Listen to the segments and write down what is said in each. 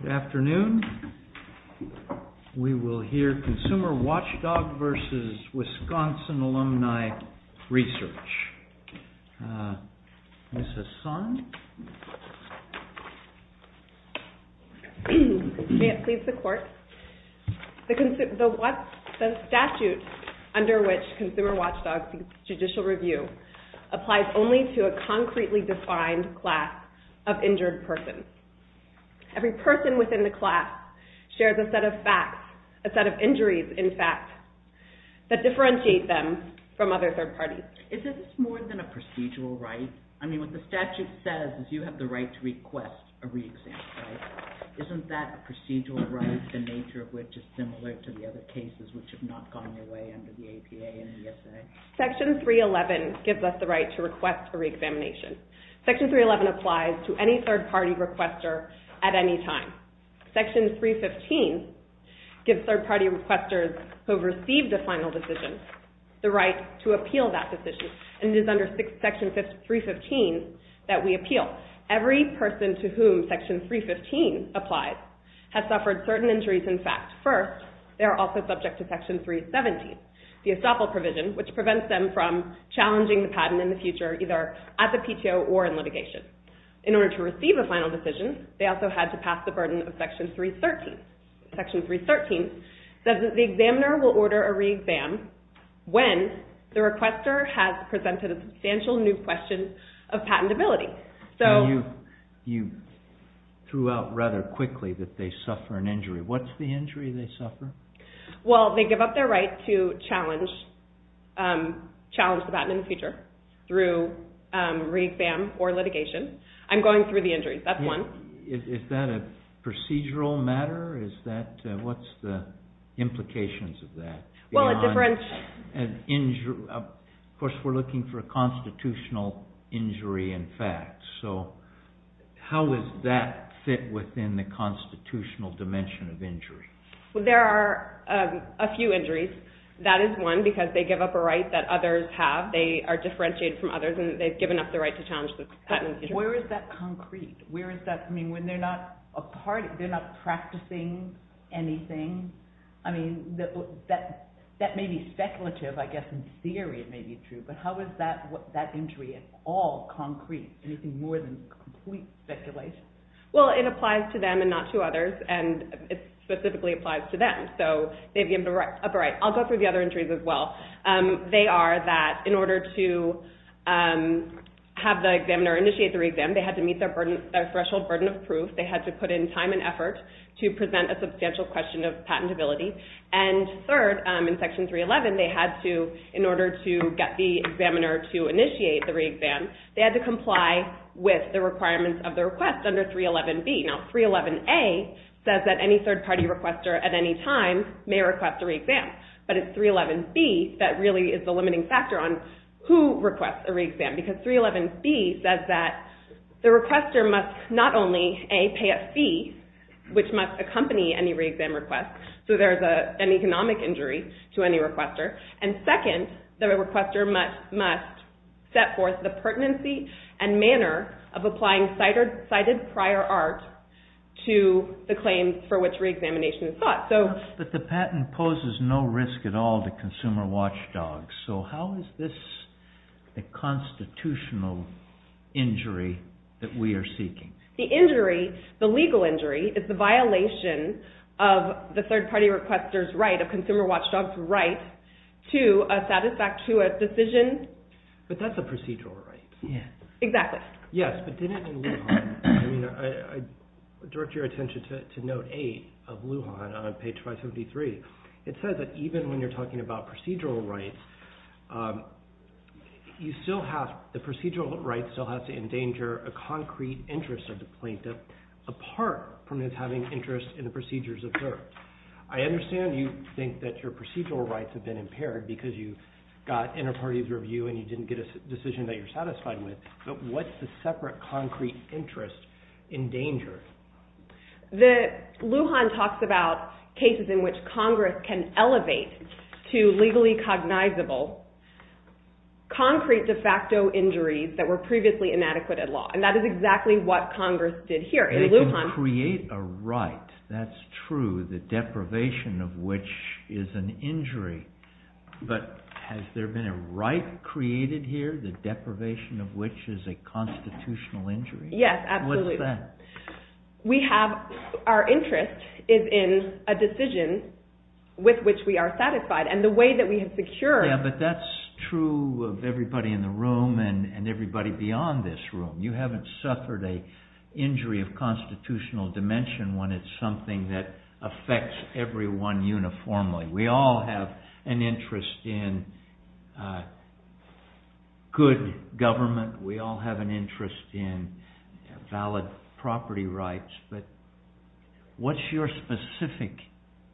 Good afternoon. We will hear Consumer Watchdog v. Wisconsin Alumni Research. Ms. Hassan? May it please the Court. The statute under which Consumer Watchdog seeks judicial review applies only to a concretely defined class of injured persons. Every person within the class shares a set of facts, a set of injuries in fact, that differentiate them from other third parties. Is this more than a procedural right? I mean, what the statute says is you have the right to request a reexamination. Isn't that a procedural right, the nature of which is similar to the other cases which have not gone away under the APA and ESA? Section 311 gives us the right to request a reexamination. Section 311 applies to any third party requester at any time. Section 315 gives third party requesters who have received a final decision the right to appeal that decision. And it is under Section 315 that we appeal. Every person to whom Section 315 applies has suffered certain injuries in fact. First, they are also subject to Section 317, the estoppel provision, which prevents them from challenging the patent in the future, either at the PTO or in litigation. In order to receive a final decision, they also had to pass the burden of Section 313. Section 313 says that the examiner will order a reexam when the requester has presented a substantial new question of patentability. You threw out rather quickly that they suffer an injury. What's the injury they suffer? Well, they give up their right to challenge the patent in the future through reexam or litigation. I'm going through the injuries, that's one. Is that a procedural matter? What's the implications of that? Of course, we're looking for a constitutional injury in fact. How does that fit within the constitutional dimension of injury? There are a few injuries. That is one because they give up a right that others have. They are differentiated from others and they've given up the right to challenge the patent in the future. Where is that concrete? They're not practicing anything. That may be speculative, I guess in theory it may be true, but how is that injury at all concrete? Anything more than complete speculation? Well, it applies to them and not to others and it specifically applies to them. I'll go through the other injuries as well. They are that in order to have the examiner initiate the reexam, they had to meet their threshold burden of proof. They had to put in time and effort to present a substantial question of patentability. Third, in Section 311, in order to get the examiner to initiate the reexam, they had to comply with the requirements of the request under 311B. Now, 311A says that any third party requester at any time may request a reexam, but it's 311B that really is the limiting factor on who requests a reexam. Because 311B says that the requester must not only pay a fee, which must accompany any reexam request, so there's an economic injury to any requester. And second, the requester must set forth the pertinency and manner of applying cited prior art to the claim for which reexamination is sought. But the patent poses no risk at all to consumer watchdogs, so how is this a constitutional injury that we are seeking? The injury, the legal injury, is the violation of the third party requester's right, of consumer watchdog's right, to a satisfactuous decision. But that's a procedural right. Exactly. Yes, but didn't it in Lujan? I direct your attention to Note 8 of Lujan on page 573. It says that even when you're talking about procedural rights, the procedural right still has to endanger a concrete interest of the plaintiff, apart from his having interest in the procedures observed. I understand you think that your procedural rights have been impaired because you got inter-party review and you didn't get a decision that you're satisfied with, but what's the separate concrete interest in danger? Lujan talks about cases in which Congress can elevate to legally cognizable concrete de facto injuries that were previously inadequate at law, and that is exactly what Congress did here in Lujan. And it can create a right, that's true, the deprivation of which is an injury, but has there been a right created here, the deprivation of which is a constitutional injury? Yes, absolutely. What's that? Our interest is in a decision with which we are satisfied, and the way that we have secured… Yes, but that's true of everybody in the room and everybody beyond this room. You haven't suffered an injury of constitutional dimension when it's something that affects everyone uniformly. We all have an interest in good government, we all have an interest in valid property rights, but what's your specific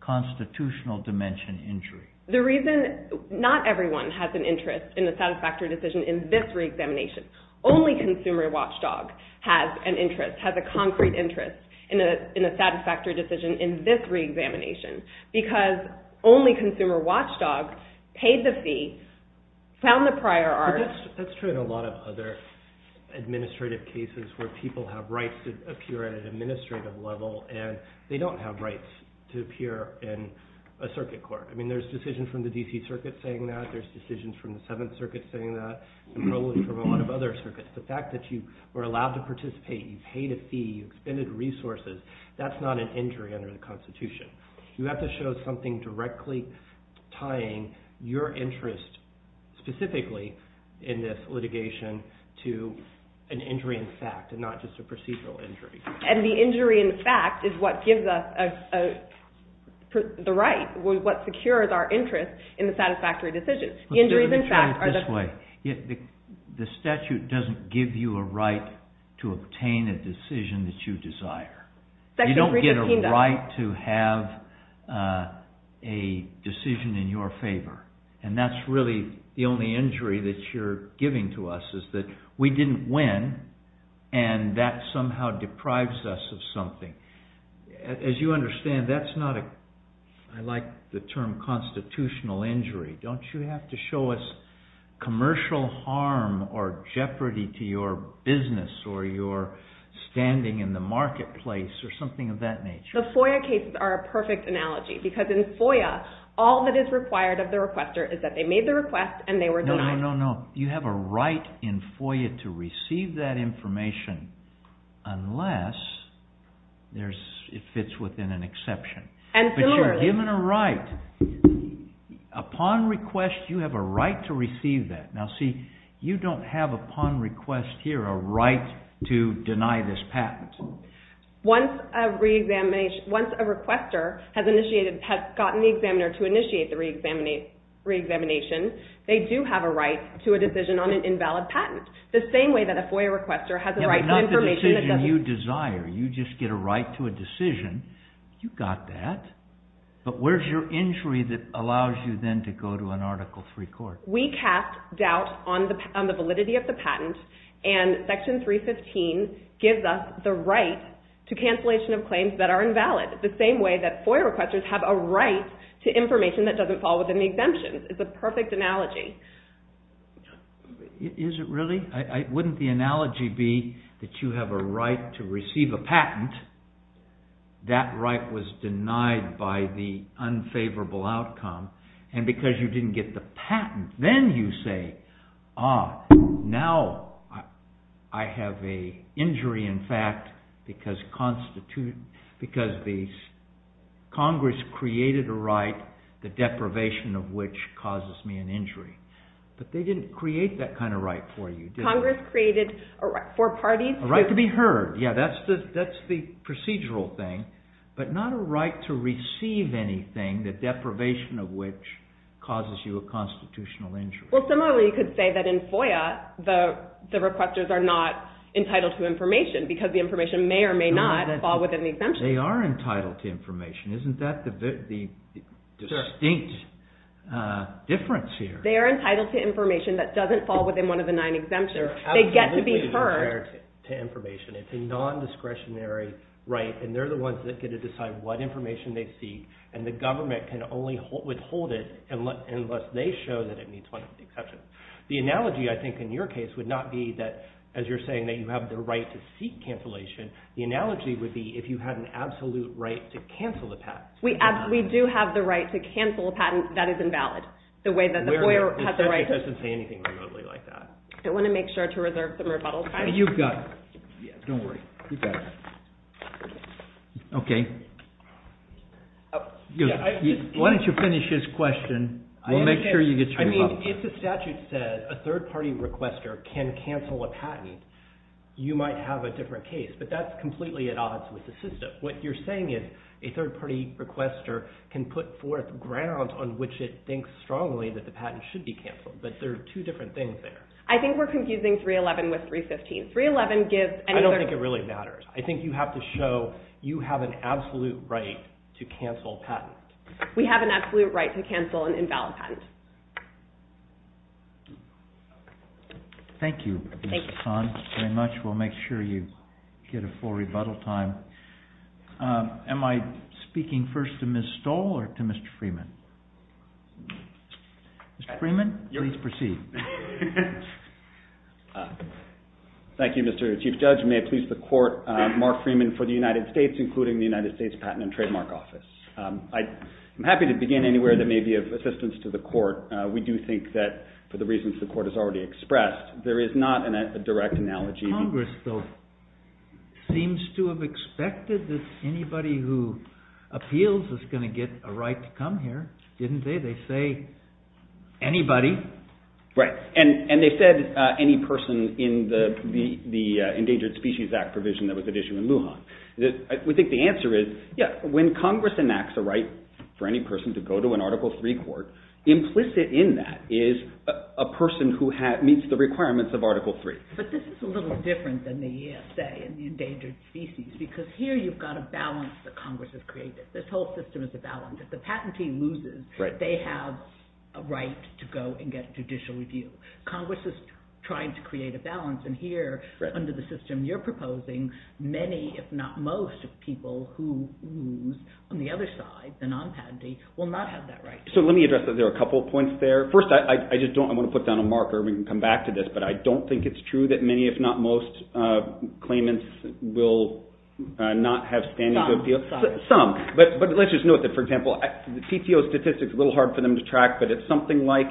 constitutional dimension injury? The reason not everyone has an interest in a satisfactory decision in this re-examination, only consumer watchdog has an interest, has a concrete interest in a satisfactory decision in this re-examination, because only consumer watchdog paid the fee, found the prior art… That's true in a lot of other administrative cases where people have rights to appear at an administrative level and they don't have rights to appear in a circuit court. I mean there's decisions from the DC circuit saying that, there's decisions from the 7th circuit saying that, and probably from a lot of other circuits. The fact that you were allowed to participate, you paid a fee, you expended resources, that's not an injury under the constitution. You have to show something directly tying your interest specifically in this litigation to an injury in fact and not just a procedural injury. And the injury in fact is what gives us the right, what secures our interest in the satisfactory decision. Let me put it this way, the statute doesn't give you a right to obtain a decision that you desire. You don't get a right to have a decision in your favor and that's really the only injury that you're giving to us is that we didn't win and that somehow deprives us of something. As you understand that's not a, I like the term constitutional injury, don't you have to show us commercial harm or jeopardy to your business or your standing in the marketplace or something of that nature? The FOIA cases are a perfect analogy because in FOIA all that is required of the requester is that they made the request and they were denied. No, no, no, you have a right in FOIA to receive that information unless it fits within an exception. But you're given a right. Upon request you have a right to receive that. Now see, you don't have upon request here a right to deny this patent. Once a requester has initiated, has gotten the examiner to initiate the reexamination, they do have a right to a decision on an invalid patent. The same way that a FOIA requester has a right to information that doesn't... But not the decision you desire, you just get a right to a decision, you got that, but where's your injury that allows you then to go to an Article III court? We cast doubt on the validity of the patent and Section 315 gives us the right to cancellation of claims that are invalid. The same way that FOIA requesters have a right to information that doesn't fall within the exemption. It's a perfect analogy. Is it really? Wouldn't the analogy be that you have a right to receive a patent, that right was denied by the unfavorable outcome and because you didn't get the patent, then you say, ah, now I have an injury in fact because Congress created a right, the deprivation of which causes me an injury. But they didn't create that kind of right for you, did they? Congress created a right for parties... They get to be heard, yeah, that's the procedural thing, but not a right to receive anything, the deprivation of which causes you a constitutional injury. Well, similarly you could say that in FOIA, the requesters are not entitled to information because the information may or may not fall within the exemption. They are entitled to information, isn't that the distinct difference here? They are entitled to information that doesn't fall within one of the nine exemptions. They get to be heard. It's a non-discretionary right and they're the ones that get to decide what information they seek and the government can only withhold it unless they show that it meets one of the exceptions. The analogy I think in your case would not be that as you're saying that you have the right to seek cancellation, the analogy would be if you had an absolute right to cancel the patent. We do have the right to cancel a patent that is invalid. The statute doesn't say anything remotely like that. I want to make sure to reserve some rebuttal time. You've got it. Don't worry, you've got it. Okay. Why don't you finish his question? I mean, if the statute says a third party requester can cancel a patent, you might have a different case, but that's completely at odds with the system. What you're saying is a third party requester can put forth grounds on which it thinks strongly that the patent should be canceled, but there are two different things there. I think we're confusing 311 with 315. I don't think it really matters. I think you have to show you have an absolute right to cancel a patent. We have an absolute right to cancel an invalid patent. Thank you, Ms. Hahn, very much. We'll make sure you get a full rebuttal time. Am I speaking first to Ms. Stoll or to Mr. Freeman? Mr. Freeman, please proceed. Thank you, Mr. Chief Judge. May it please the Court, Mark Freeman for the United States, including the United States Patent and Trademark Office. I'm happy to begin anywhere that may be of assistance to the Court. We do think that for the reasons the Court has already expressed, there is not a direct analogy. Congress, though, seems to have expected that anybody who appeals is going to get a right to come here, didn't they? They say anybody. Right, and they said any person in the Endangered Species Act provision that was at issue in Lujan. We think the answer is, yes, when Congress enacts a right for any person to go to an Article III court, implicit in that is a person who meets the requirements of Article III. But this is a little different than the ESA and the Endangered Species, because here you've got a balance that Congress has created. This whole system is a balance. If the patentee loses, they have a right to go and get judicial review. Congress is trying to create a balance, and here, under the system you're proposing, many, if not most, of people who lose on the other side, the non-patentee, will not have that right. So let me address that. There are a couple of points there. First, I just don't want to put down a marker. We can come back to this. But I don't think it's true that many, if not most, claimants will not have standing to appeal. Some. But let's just note that, for example, the TTO statistics are a little hard for them to track, but it's something like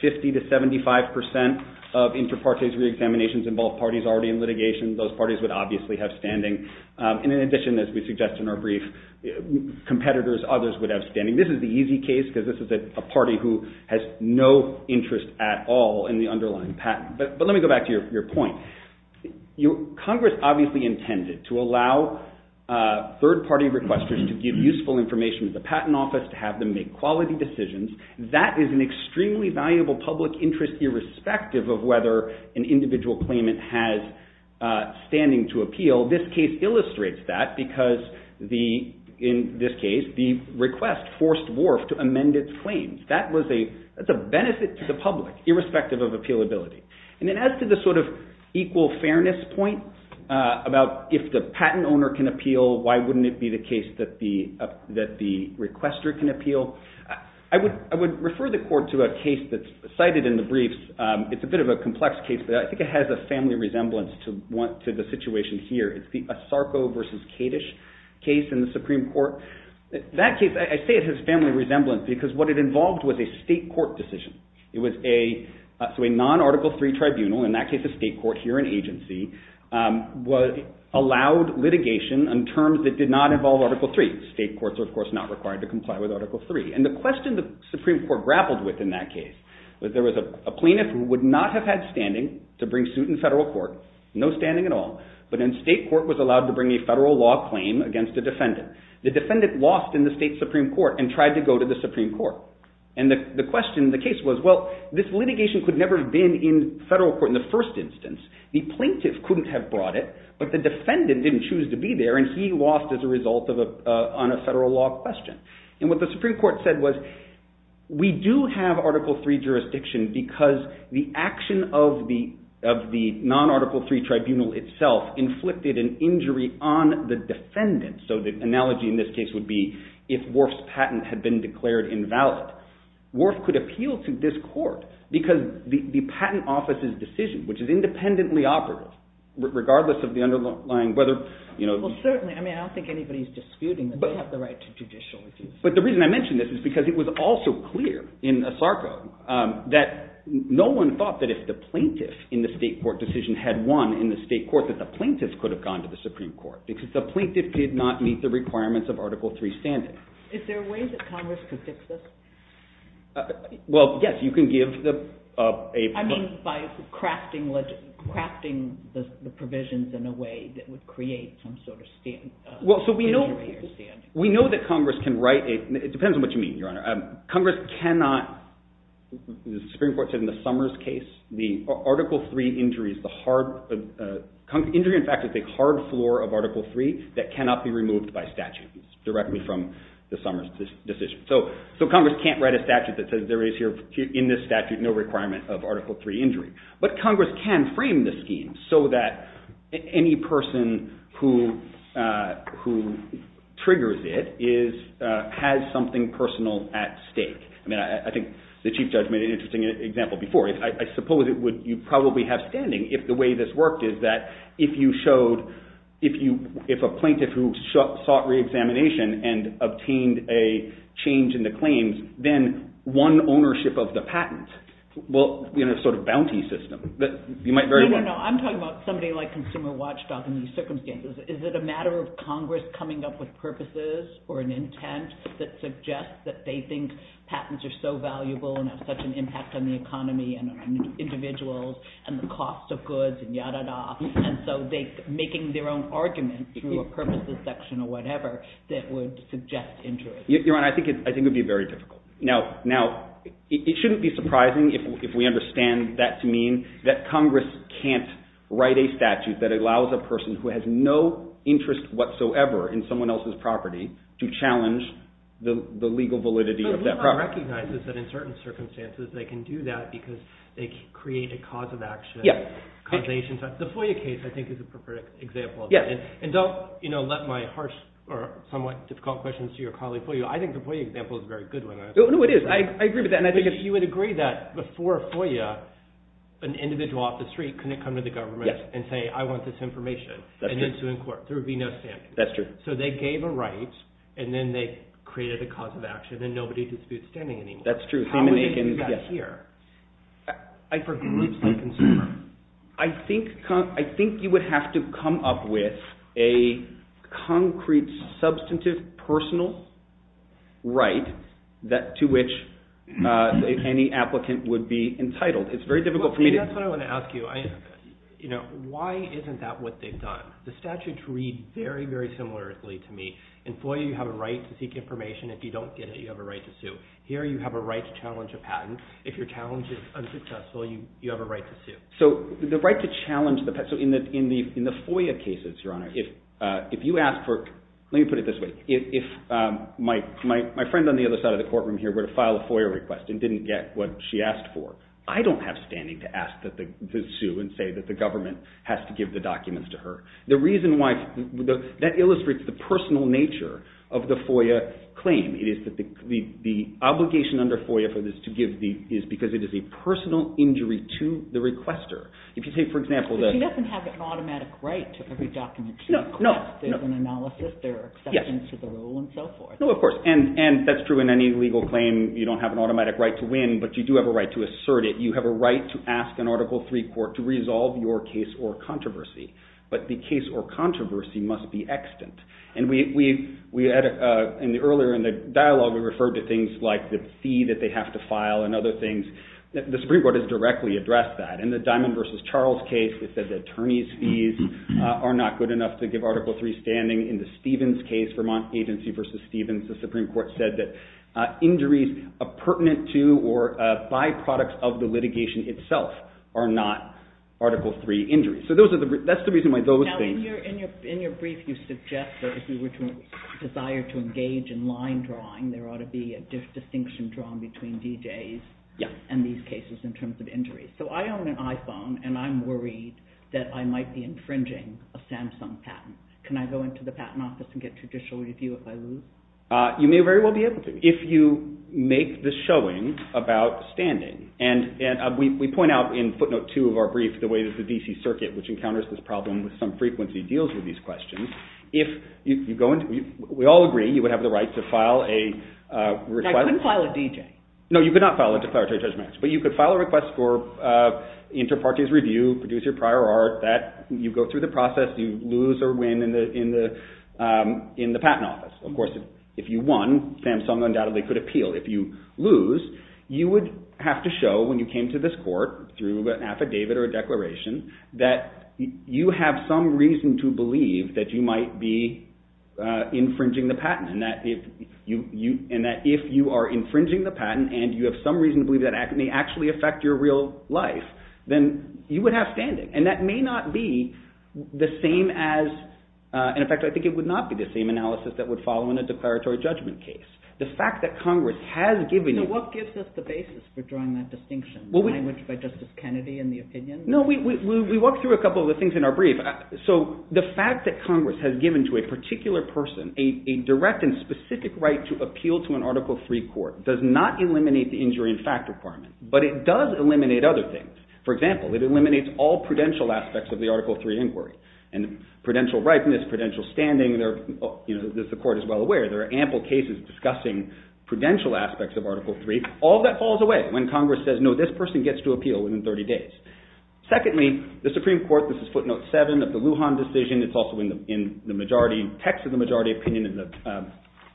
50 to 75 percent of inter partes reexaminations involve parties already in litigation. Those parties would obviously have standing. And in addition, as we suggested in our brief, competitors, others, would have standing. This is the easy case, because this is a party who has no interest at all in the underlying patent. But let me go back to your point. Congress obviously intended to allow third-party requesters to give useful information to the patent office, to have them make quality decisions. That is an extremely valuable public interest, irrespective of whether an individual claimant has standing to appeal. This case illustrates that, because in this case, the request forced Wharf to amend its claims. That's a benefit to the public, irrespective of appealability. And then as to the sort of equal fairness point, about if the patent owner can appeal, why wouldn't it be the case that the requester can appeal? I would refer the court to a case that's cited in the briefs. It's a bit of a complex case, but I think it has a family resemblance to the situation here. It's the Asarco v. Kadish case in the Supreme Court. That case, I say it has family resemblance, because what it involved was a state court decision. It was a non-Article III tribunal, in that case a state court here in agency, allowed litigation on terms that did not involve Article III. State courts are of course not required to comply with Article III. And the question the Supreme Court grappled with in that case was there was a plaintiff who would not have had standing to bring suit in federal court, no standing at all, but in state court was allowed to bring a federal law claim against a defendant. The defendant lost in the state Supreme Court and tried to go to the Supreme Court. And the question in the case was, well, this litigation could never have been in federal court in the first instance. The plaintiff couldn't have brought it, but the defendant didn't choose to be there and he lost as a result on a federal law question. And what the Supreme Court said was, we do have Article III jurisdiction because the action of the non-Article III tribunal itself inflicted an injury on the defendant. So the analogy in this case would be if Worf's patent had been declared invalid, Worf could appeal to this court because the patent office's decision, which is independently operative, regardless of the underlying, whether, you know… Well, certainly, I mean, I don't think anybody is disputing that they have the right to judicial review. But the reason I mention this is because it was also clear in ASARCO that no one thought that if the plaintiff in the state court decision had won in the state court that the plaintiff could have gone to the Supreme Court because the plaintiff did not meet the requirements of Article III standing. Is there a way that Congress could fix this? Well, yes, you can give a… I mean, by crafting the provisions in a way that would create some sort of injury or standing. We know that Congress can write a… it depends on what you mean, Your Honor. Congress cannot, the Supreme Court said in the Summers case, the Article III injuries, the hard… Injury, in fact, is a hard floor of Article III that cannot be removed by statute. It's directly from the Summers decision. So Congress can't write a statute that says there is here, in this statute, no requirement of Article III injury. But Congress can frame the scheme so that any person who triggers it has something personal at stake. I mean, I think the Chief Judge made an interesting example before. You probably have standing if the way this worked is that if you showed… if a plaintiff who sought re-examination and obtained a change in the claims, then one ownership of the patent will be in a sort of bounty system. You might very well… No, no, no. I'm talking about somebody like Consumer Watchdog in these circumstances. Is it a matter of Congress coming up with purposes or an intent that suggests that they think patents are so valuable and have such an impact on the economy and on individuals and the cost of goods and yada-da, and so making their own argument through a purposes section or whatever that would suggest injury? Your Honor, I think it would be very difficult. Now, it shouldn't be surprising if we understand that to mean that Congress can't write a statute that allows a person who has no interest whatsoever in someone else's property to challenge the legal validity of that property. Congress recognizes that in certain circumstances they can do that because they create a cause of action. The FOIA case, I think, is a perfect example of that. And don't let my harsh or somewhat difficult questions to your colleague fool you. I think the FOIA example is a very good one. No, no, it is. I agree with that. You would agree that before FOIA, an individual off the street couldn't come to the government and say, I want this information, and then sue in court. There would be no standing. So they gave a right, and then they created a cause of action, but there's no standing anymore. That's true. I think you would have to come up with a concrete, substantive, personal right to which any applicant would be entitled. It's very difficult for me to... That's what I want to ask you. Why isn't that what they've done? The statutes read very, very similarly to me. In FOIA, you have a right to seek information. If you don't get it, you have a right to sue. Here, you have a right to challenge a patent. If your challenge is unsuccessful, you have a right to sue. So the right to challenge the patent... So in the FOIA cases, Your Honor, if you ask for... Let me put it this way. If my friend on the other side of the courtroom here were to file a FOIA request and didn't get what she asked for, I don't have standing to ask to sue and say that the government has to give the documents to her. The reason why... That illustrates the personal nature of the FOIA claim. It is that the obligation under FOIA for this to give the... is because it is a personal injury to the requester. If you take, for example... But she doesn't have an automatic right to every document she requests. There's an analysis, there are exceptions to the rule, and so forth. No, of course. And that's true in any legal claim. You don't have an automatic right to win, but you do have a right to assert it. You have a right to ask an Article III court to resolve your case or controversy. That's the extent. And earlier in the dialogue, we referred to things like the fee that they have to file and other things. The Supreme Court has directly addressed that. In the Diamond v. Charles case, they said the attorney's fees are not good enough to give Article III standing. In the Stevens case, Vermont Agency v. Stevens, the Supreme Court said that injuries pertinent to or byproducts of the litigation itself are not Article III injuries. So that's the reason why those things... Now, in your brief, you suggest that if you were to desire to engage in line drawing, there ought to be a distinction drawn between DJs and these cases in terms of injuries. So I own an iPhone, and I'm worried that I might be infringing a Samsung patent. Can I go into the patent office and get judicial review if I lose? You may very well be able to if you make the showing about standing. And we point out in footnote 2 of our brief the way that the D.C. Circuit, which encounters this problem with some frequency, deals with these questions. We all agree you would have the right to file a... I couldn't file a DJ. No, you could not file a declaratory judgment. But you could file a request for inter partes review, produce your prior art. You go through the process. You lose or win in the patent office. Of course, if you won, Samsung undoubtedly could appeal. If you lose, you would have to show when you came to this court through an affidavit or a declaration that you have some reason to believe that you might be infringing the patent and that if you are infringing the patent and you have some reason to believe that it may actually affect your real life, then you would have standing. And that may not be the same as... In fact, I think it would not be the same analysis that would follow in a declaratory judgment case. The fact that Congress has given you... You know, what gives us the basis for drawing that distinction? Language by Justice Kennedy and the opinion? Just a couple of the things in our brief. So the fact that Congress has given to a particular person a direct and specific right to appeal to an Article III court does not eliminate the injury in fact requirement, but it does eliminate other things. For example, it eliminates all prudential aspects of the Article III inquiry. And prudential rightness, prudential standing, as the court is well aware, there are ample cases discussing prudential aspects of Article III. All that falls away when Congress says, no, this person gets to appeal within 30 days. This is footnote four. This is footnote seven of the Lujan decision. It's also in the majority, text of the majority opinion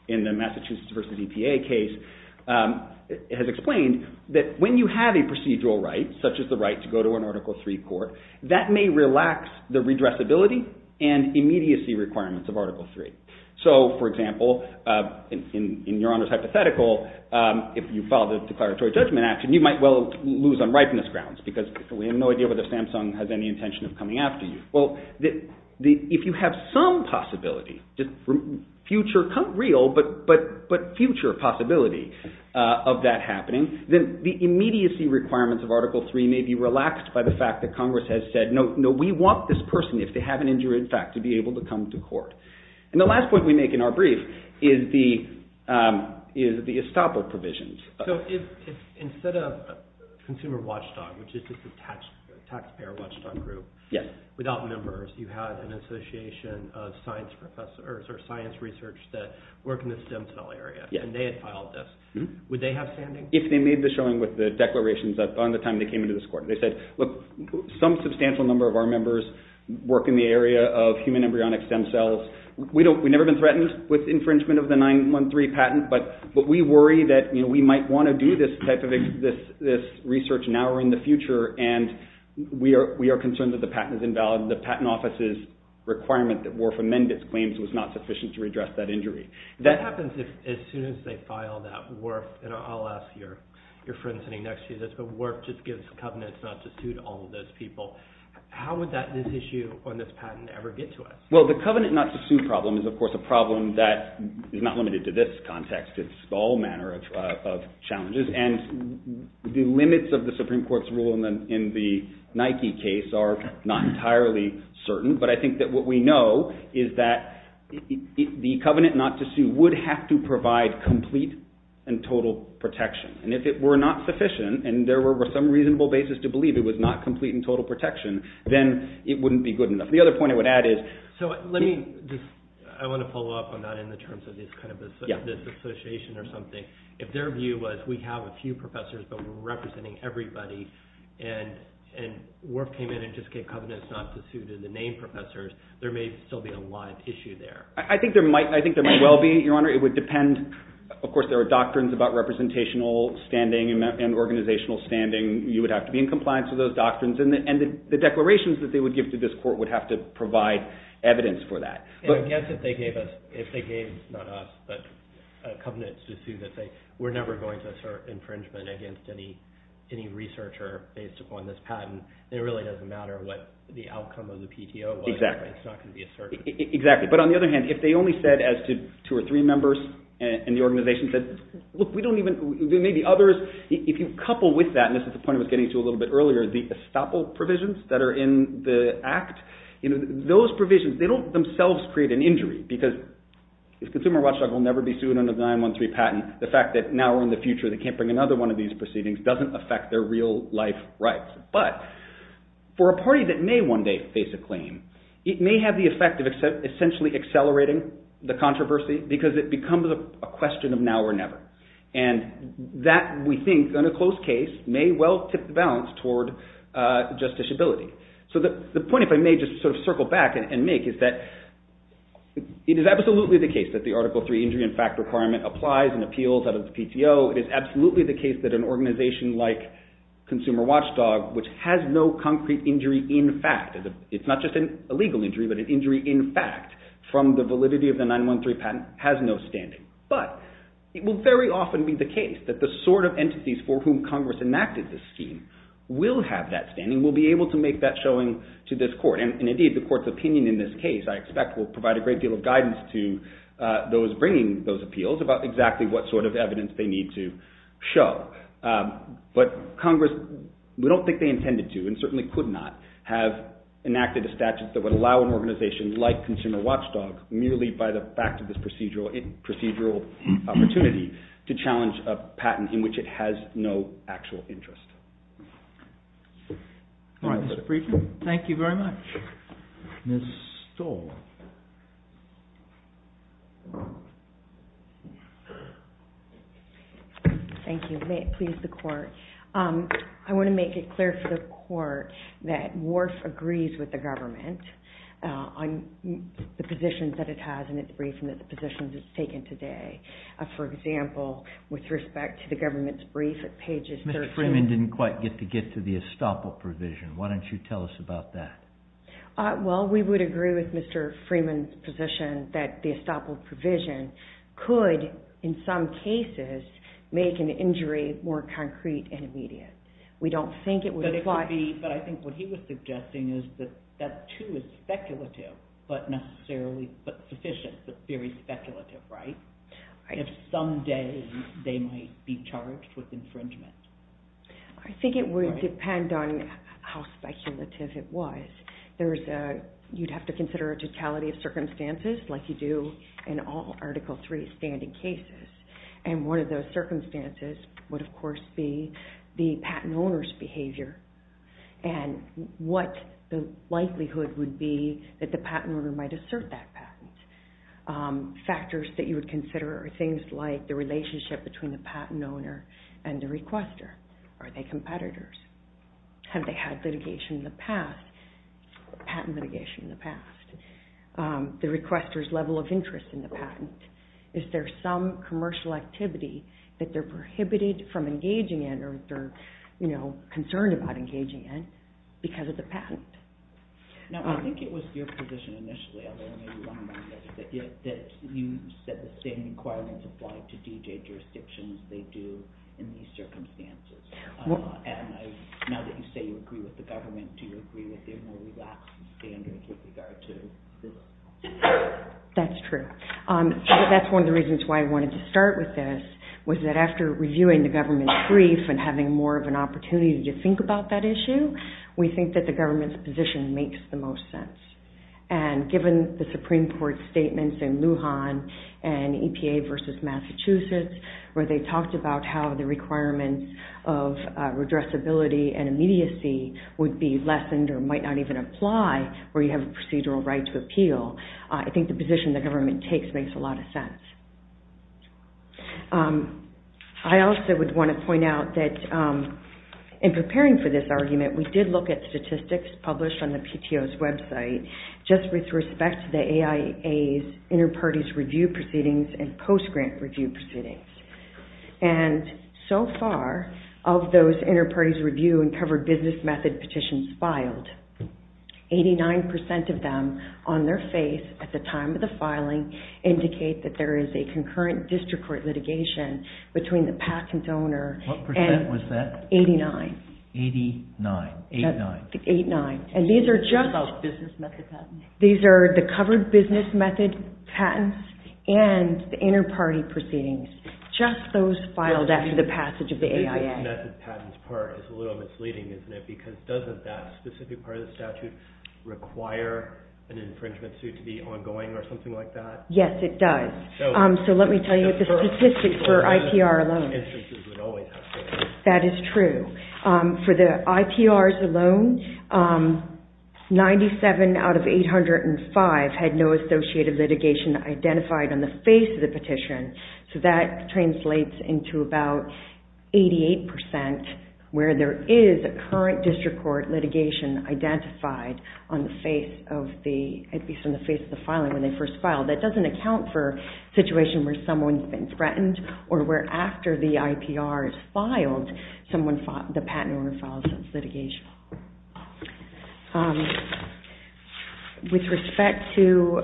in the Massachusetts versus EPA case. It has explained that when you have a procedural right, such as the right to go to an Article III court, that may relax the redressability and immediacy requirements of Article III. So, for example, in Your Honor's hypothetical, if you file the declaratory judgment action, you might well lose on ripeness grounds because we have no idea whether Samsung has any intention of coming after you. Well, if you have some possibility, future, not real, but future possibility of that happening, then the immediacy requirements of Article III may be relaxed by the fact that Congress has said, no, we want this person, if they have an injury in fact, to be able to come to court. And the last point we make in our brief is the estoppel provisions. So, instead of Consumer Watchdog, which is just a taxpayer watchdog group, without members, you had an association of science professors or science research that work in the stem cell area, and they had filed this. Would they have standing? If they made the showing with the declarations on the time they came into this court, they said, look, some substantial number of our members work in the area of human embryonic stem cells. We've never been threatened with infringement of the 913 patent, and we might want to do this type of research now or in the future, and we are concerned that the patent is invalid. The Patent Office's requirement that WRF amend its claims was not sufficient to redress that injury. That happens as soon as they file that WRF, and I'll ask your friend sitting next to you this, but WRF just gives covenants not to sue to all of those people. How would this issue on this patent ever get to us? Well, the covenant not to sue problem is, of course, a problem that has its own challenges, and the limits of the Supreme Court's rule in the Nike case are not entirely certain, but I think that what we know is that the covenant not to sue would have to provide complete and total protection, and if it were not sufficient and there were some reasonable basis to believe it was not complete and total protection, then it wouldn't be good enough. The other point I would add is, so let me just, I want to follow up on that because if we have a few professors but we're representing everybody and WRF came in and just gave covenants not to sue to the named professors, there may still be a live issue there. I think there might well be, Your Honor. It would depend. Of course, there are doctrines about representational standing and organizational standing. You would have to be in compliance with those doctrines, and the declarations that they would give to this court would have to provide evidence for that. Yes, if they gave us, if they gave us evidence for infringement against any researcher based upon this patent, then it really doesn't matter what the outcome of the PTO was. Exactly. It's not going to be assertive. Exactly, but on the other hand, if they only said as to two or three members and the organization said, look, we don't even, there may be others. If you couple with that, and this is the point I was getting to a little bit earlier, the estoppel provisions that are in the Act, those provisions, they don't themselves create an injury because if Consumer Watchdog will never be sued under the 913 patent, the fact that now or in the future they can't bring another one of these proceedings doesn't affect their real life rights. But for a party that may one day face a claim, it may have the effect of essentially accelerating the controversy because it becomes a question of now or never. And that, we think, in a close case, may well tip the balance toward justiciability. So the point, if I may, just sort of circle back and make is that it is absolutely the case that the Article III injury in fact requirement applies and appeals out of the PTO. It is absolutely the case that an organization like Consumer Watchdog, which has no concrete injury in fact, it's not just an illegal injury, but an injury in fact from the validity of the 913 patent, has no standing. But it will very often be the case that the sort of entities that enacted the scheme will have that standing, will be able to make that showing to this court. And indeed, the court's opinion in this case, I expect, will provide a great deal of guidance to those bringing those appeals about exactly what sort of evidence they need to show. But Congress, we don't think they intended to and certainly could not have enacted a statute that would allow an organization like Consumer Watchdog merely by the fact of this procedural opportunity to challenge a patent in which it has no actual interest. All right, Mr. Briefman. Thank you very much. Ms. Stoll. Thank you. May it please the court. I want to make it clear for the court that WRF agrees with the government on the positions that it has in its briefing that the positions it's taken today. For example, with respect to the government's brief at pages 13. Mr. Freeman didn't quite get to get to the estoppel provision. Why don't you tell us about that? Well, we would agree with Mr. Freeman's position that the estoppel provision could, in some cases, make an injury more concrete and immediate. We don't think it would apply. But it could be, but I think what he was suggesting is that that too is speculative, but necessarily, but sufficient, but very speculative, right? If someday they might be charged with infringement. I think it would depend on how speculative it was. There's a, you'd have to consider a totality of circumstances like you do in all Article III standing cases. And one of those circumstances would, of course, be the patent owner's behavior and what the likelihood would be that the patent owner might assert that patent. Factors that you would consider are things like the relationship between the patent owner and the requester. Are they competitors? Have they had litigation in the past, patent litigation in the past? The requester's level of interest in the patent. Is there some commercial activity that they're prohibited from engaging in or they're, you know, concerned about engaging in because of the patent? Now, I think it was your position initially, although maybe one of mine, that you said that the same requirements apply to DJ jurisdictions. They do in these circumstances. And I, now that you say you agree with the government, do you agree with their more relaxed standard with regard to the law? That's true. That's one of the reasons why I wanted to start with this was that after reviewing the government brief and having more of an opportunity to think about that issue, we think that the government's position makes the most sense. And given the Supreme Court statements in Lujan and EPA versus Massachusetts where they talked about how the requirements of redressability and immediacy would be lessened or might not even apply where you have a procedural right to appeal, I think the position the government takes makes a lot of sense. I also would want to point out that in preparing for this argument, we did look at statistics published on the PTO's website just with respect to the AIA's inter-parties review proceedings and post-grant review proceedings. And so far, of those inter-parties review and covered business method petitions filed, 89% of them on their face at the time of the filing indicate that there is a concurrent district court litigation between the patent owner and... What percent was that? 89. 89. 89. 89. And these are just... What about business method patents? These are the covered business method patents and the inter-party proceedings. Just those filed after the passage of the AIA. The business method patents part is a little misleading, isn't it? Because doesn't that specific part of the statute require an infringement suit to be ongoing or something like that? Yes, it does. So let me tell you the statistics for IPR alone. That is true. For the IPRs alone, 97 out of 800 and 505 had no associated litigation identified on the face of the petition. So that translates into about 88% where there is a current district court litigation identified on the face of the... At least on the face of the filing when they first filed. That doesn't account for a situation where someone's been threatened or where after the IPR is filed, the patent owner files his litigation. With respect to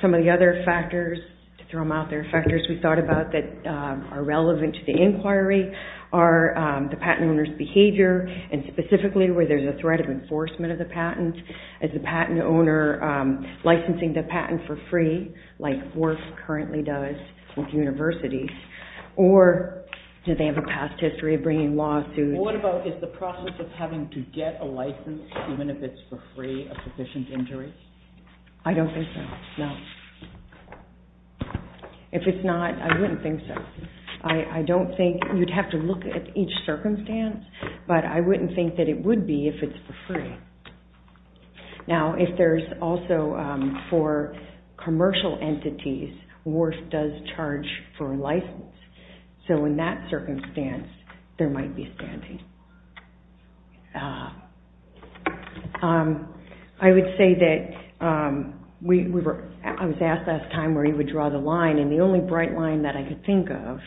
some of the other factors, to throw them out there, factors we thought about that are relevant to the inquiry are the patent owner's behavior and specifically where there is a threat of enforcement of the patent. Is the patent owner licensing the patent for free like WORF currently does with universities? Or do they have a past history of bringing lawsuits? What about is the process of having to get a license even if it's for free of sufficient injuries? I don't think so. No. If it's not, I wouldn't think so. I don't think you'd have to look at each circumstance, but I wouldn't think that it would be if it's for free. Now, if there's also for commercial entities, WORF does charge for license. So in that circumstance, there might be an issue with that. I would say that we were asked last time where you would draw the line, and the only bright line that I could think of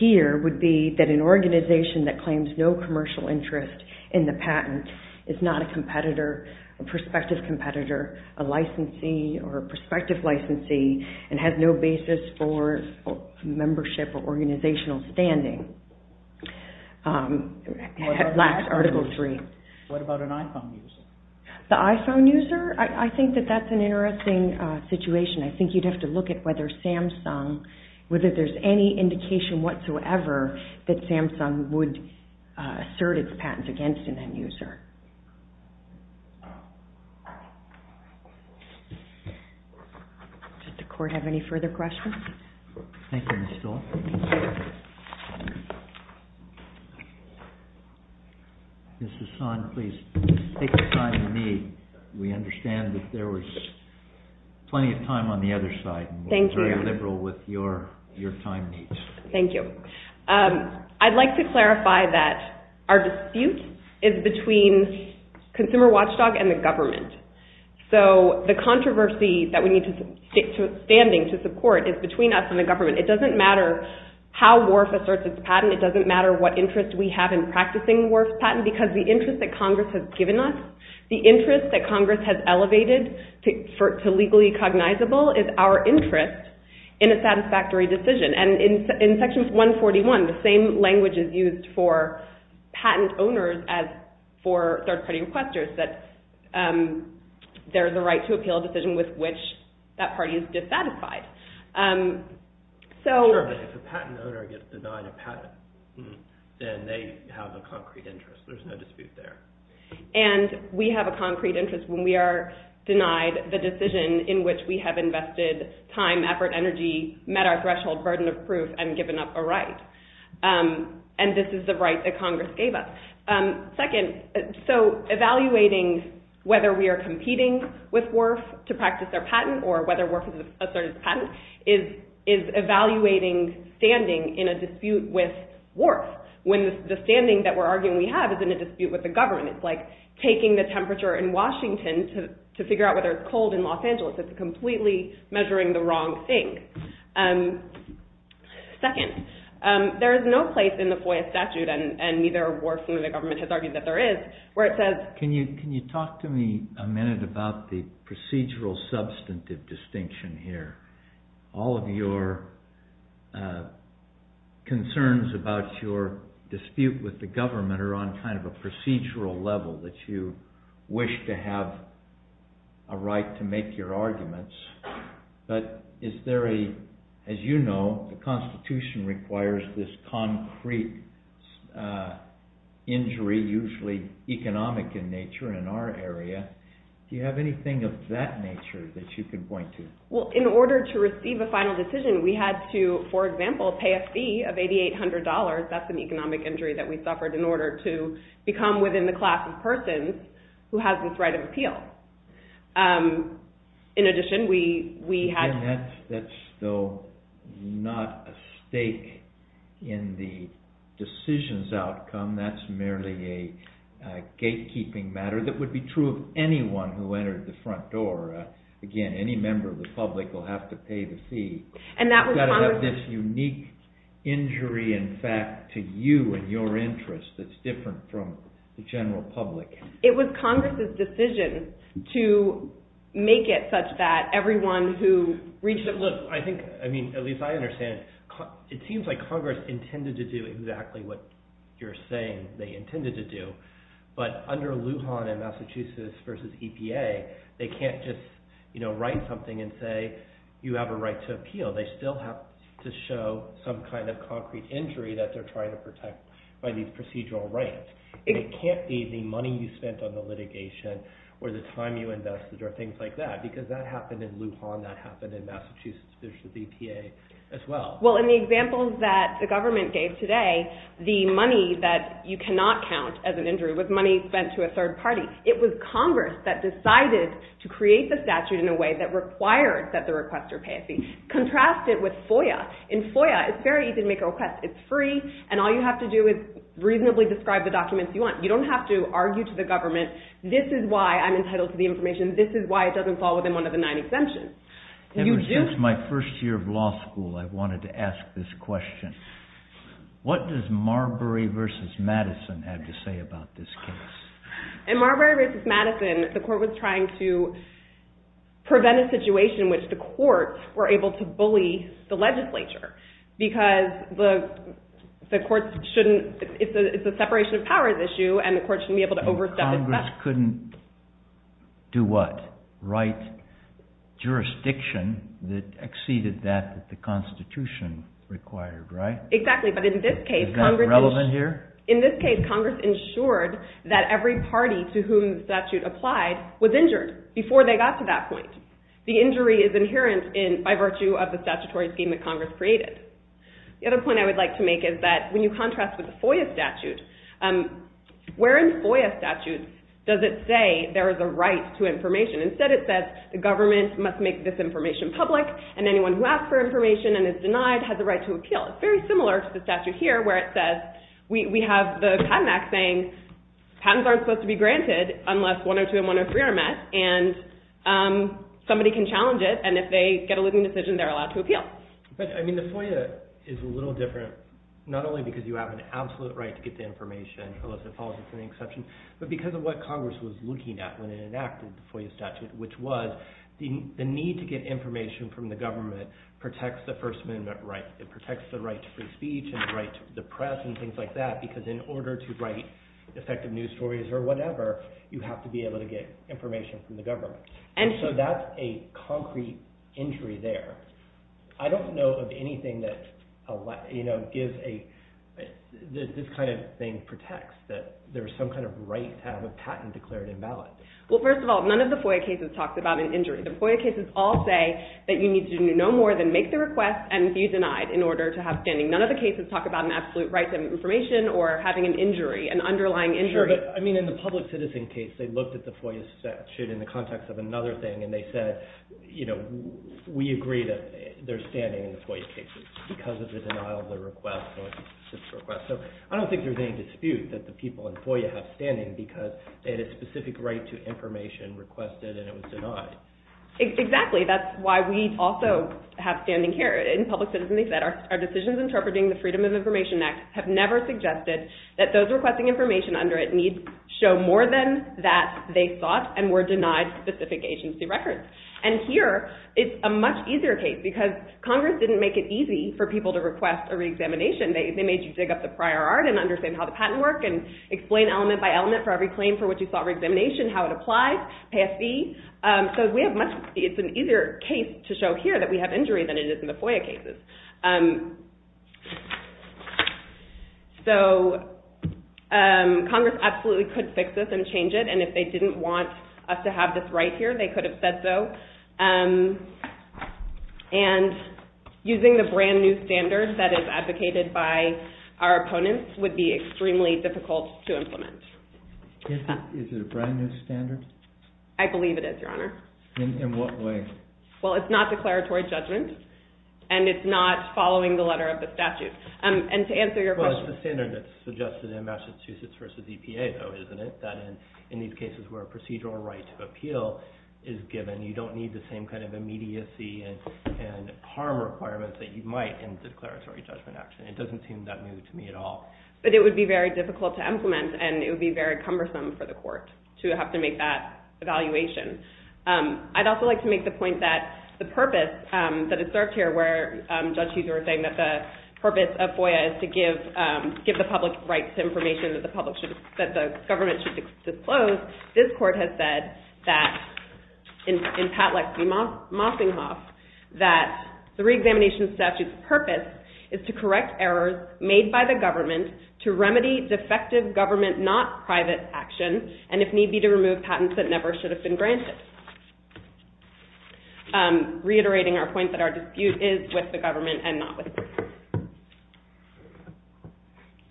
here would be that an organization that claims no commercial interest in the patent is not a competitor, a prospective competitor, a licensee, or a prospective licensee, and has no basis for membership or organizational standing. That's Article 3. What about an iPhone user? The iPhone user? I think that that's an interesting situation. I think you'd have to look at whether Samsung, whether there's any indication whatsoever that Samsung would assert its patent against an end user. Does the court have any further questions? Thank you, Ms. Stoll. Ms. Hassan, please take the time you need. We understand that there was plenty of time on the other side. Thank you. We're very liberal with your time needs. Thank you. I'd like to clarify that our dispute is between Consumer Watchdog and the government, so the controversy that we need to support is between us and the government. It doesn't matter how WARF asserts its patent, it doesn't matter what interest we have in practicing WARF's patent, because the interest that Congress has given us, the interest that Congress has elevated to legally cognizable, is our interest in a satisfactory decision. And in Section 141, the same is true for patent owners as for third-party requesters, that there is a right to appeal a decision with which that party is dissatisfied. Sure, but if a patent owner gets denied a patent, then they have a concrete interest, there's no dispute there. And we have a concrete interest when we are denied the decision in which we have invested time, effort, energy, met our threshold, burden of proof, and given up a right. And this is the right that Congress gave us. Second, so evaluating whether we are competing with WARF to practice their patent, or whether WARF has asserted its patent, is evaluating standing in a dispute with WARF, when the standing that we're arguing we have is in a dispute with the government. It's like taking the temperature in Washington to figure out whether it's cold in Los Angeles. It's completely measuring the wrong thing. Second, there is no right to your arguments. Can you talk to me a minute about the procedural substantive distinction here? All of your concerns about your dispute with the government are on kind of a procedural level that you wish to have a right to make your arguments. But is there a, as you know, the Constitution requires this concrete injury, usually economic in nature in our area. Do you have anything of that nature that you can point to? Well, in order to receive a final decision, we had to, for example, pay a fee of $8,800. That's an economic injury that we suffered in order to receive final decision. That's also not a stake in the decisions outcome. That's merely a gatekeeping matter that would be true of anyone who entered the front door. Again, any member of the public will have to pay the fee. You've got to have this unique injury in fact to you and your interest that's different from the general public. It was Congress's decision to make it such that everyone who reached... Look, I think, I mean, at least I understand, it seems like Congress intended to do exactly what you're saying they intended to do, but under some kind of concrete injury that they're trying to protect by these procedural rights. It can't be the money you spent on the litigation or the time you invested or things like that because that happened in Lujan, that happened in Massachusetts as well. Well, in the examples that the government gave today, the money that you spent on the litigation is very easy to make a request. It's free and all you have to do is reasonably describe the documents you want. You don't have to argue to the government, this is why I'm entitled to the information, this is why it doesn't fall within one of the nine exemptions. Ever since my first year of law school, I wanted to ask this question. What does Marbury v. Madison have to say about this case? In Marbury v. Madison, the court was trying to prevent a situation in which the courts were able to bully the legislature because the courts shouldn't, it's a separation of powers issue and the courts shouldn't be able to do that. the court did that with the constitution required, right? Exactly, but in this case, Congress ensured that every party to whom the statute applied was injured before they got to that point. The injury is inherent by virtue of the statutory scheme that Congress created. The other point I wanted to make to whom the statute got to that In Marbury v. Madison, the court was trying to prevent a situation in which the legislature shouldn't be able to get information from the government. The need to get information from the government protects the right to free speech and the right to the press and things like that because in order to write effective news stories you have to be able to get information from the government. It's an easier case to show here that we have injury than it is in the FOIA cases. So Congress absolutely could fix this and change it and if they didn't want us to have this right here they could have said so. And using the FOIA standards they could have said no. The FOIA standards the FOIA standards that are in the FOIA standards. And the FOIA standards are different than the FOIA standards. So we have to make that evaluation. I'd also like to make the point that the purpose that is served here where the purpose of FOIA is to give the public information that the government should disclose the public. So this court has said that the re-examination statute's purpose is to correct errors made by the government to remedy defective government not private action and if need be to remove patents that never should have been granted. Reiterating our point that our dispute is with the government and not with the court. Does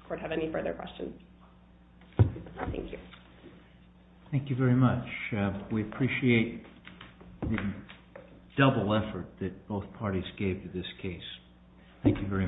the court have any further questions? Thank you. Thank you very much. We appreciate the double effort that both parties gave to this case. Thank you very much.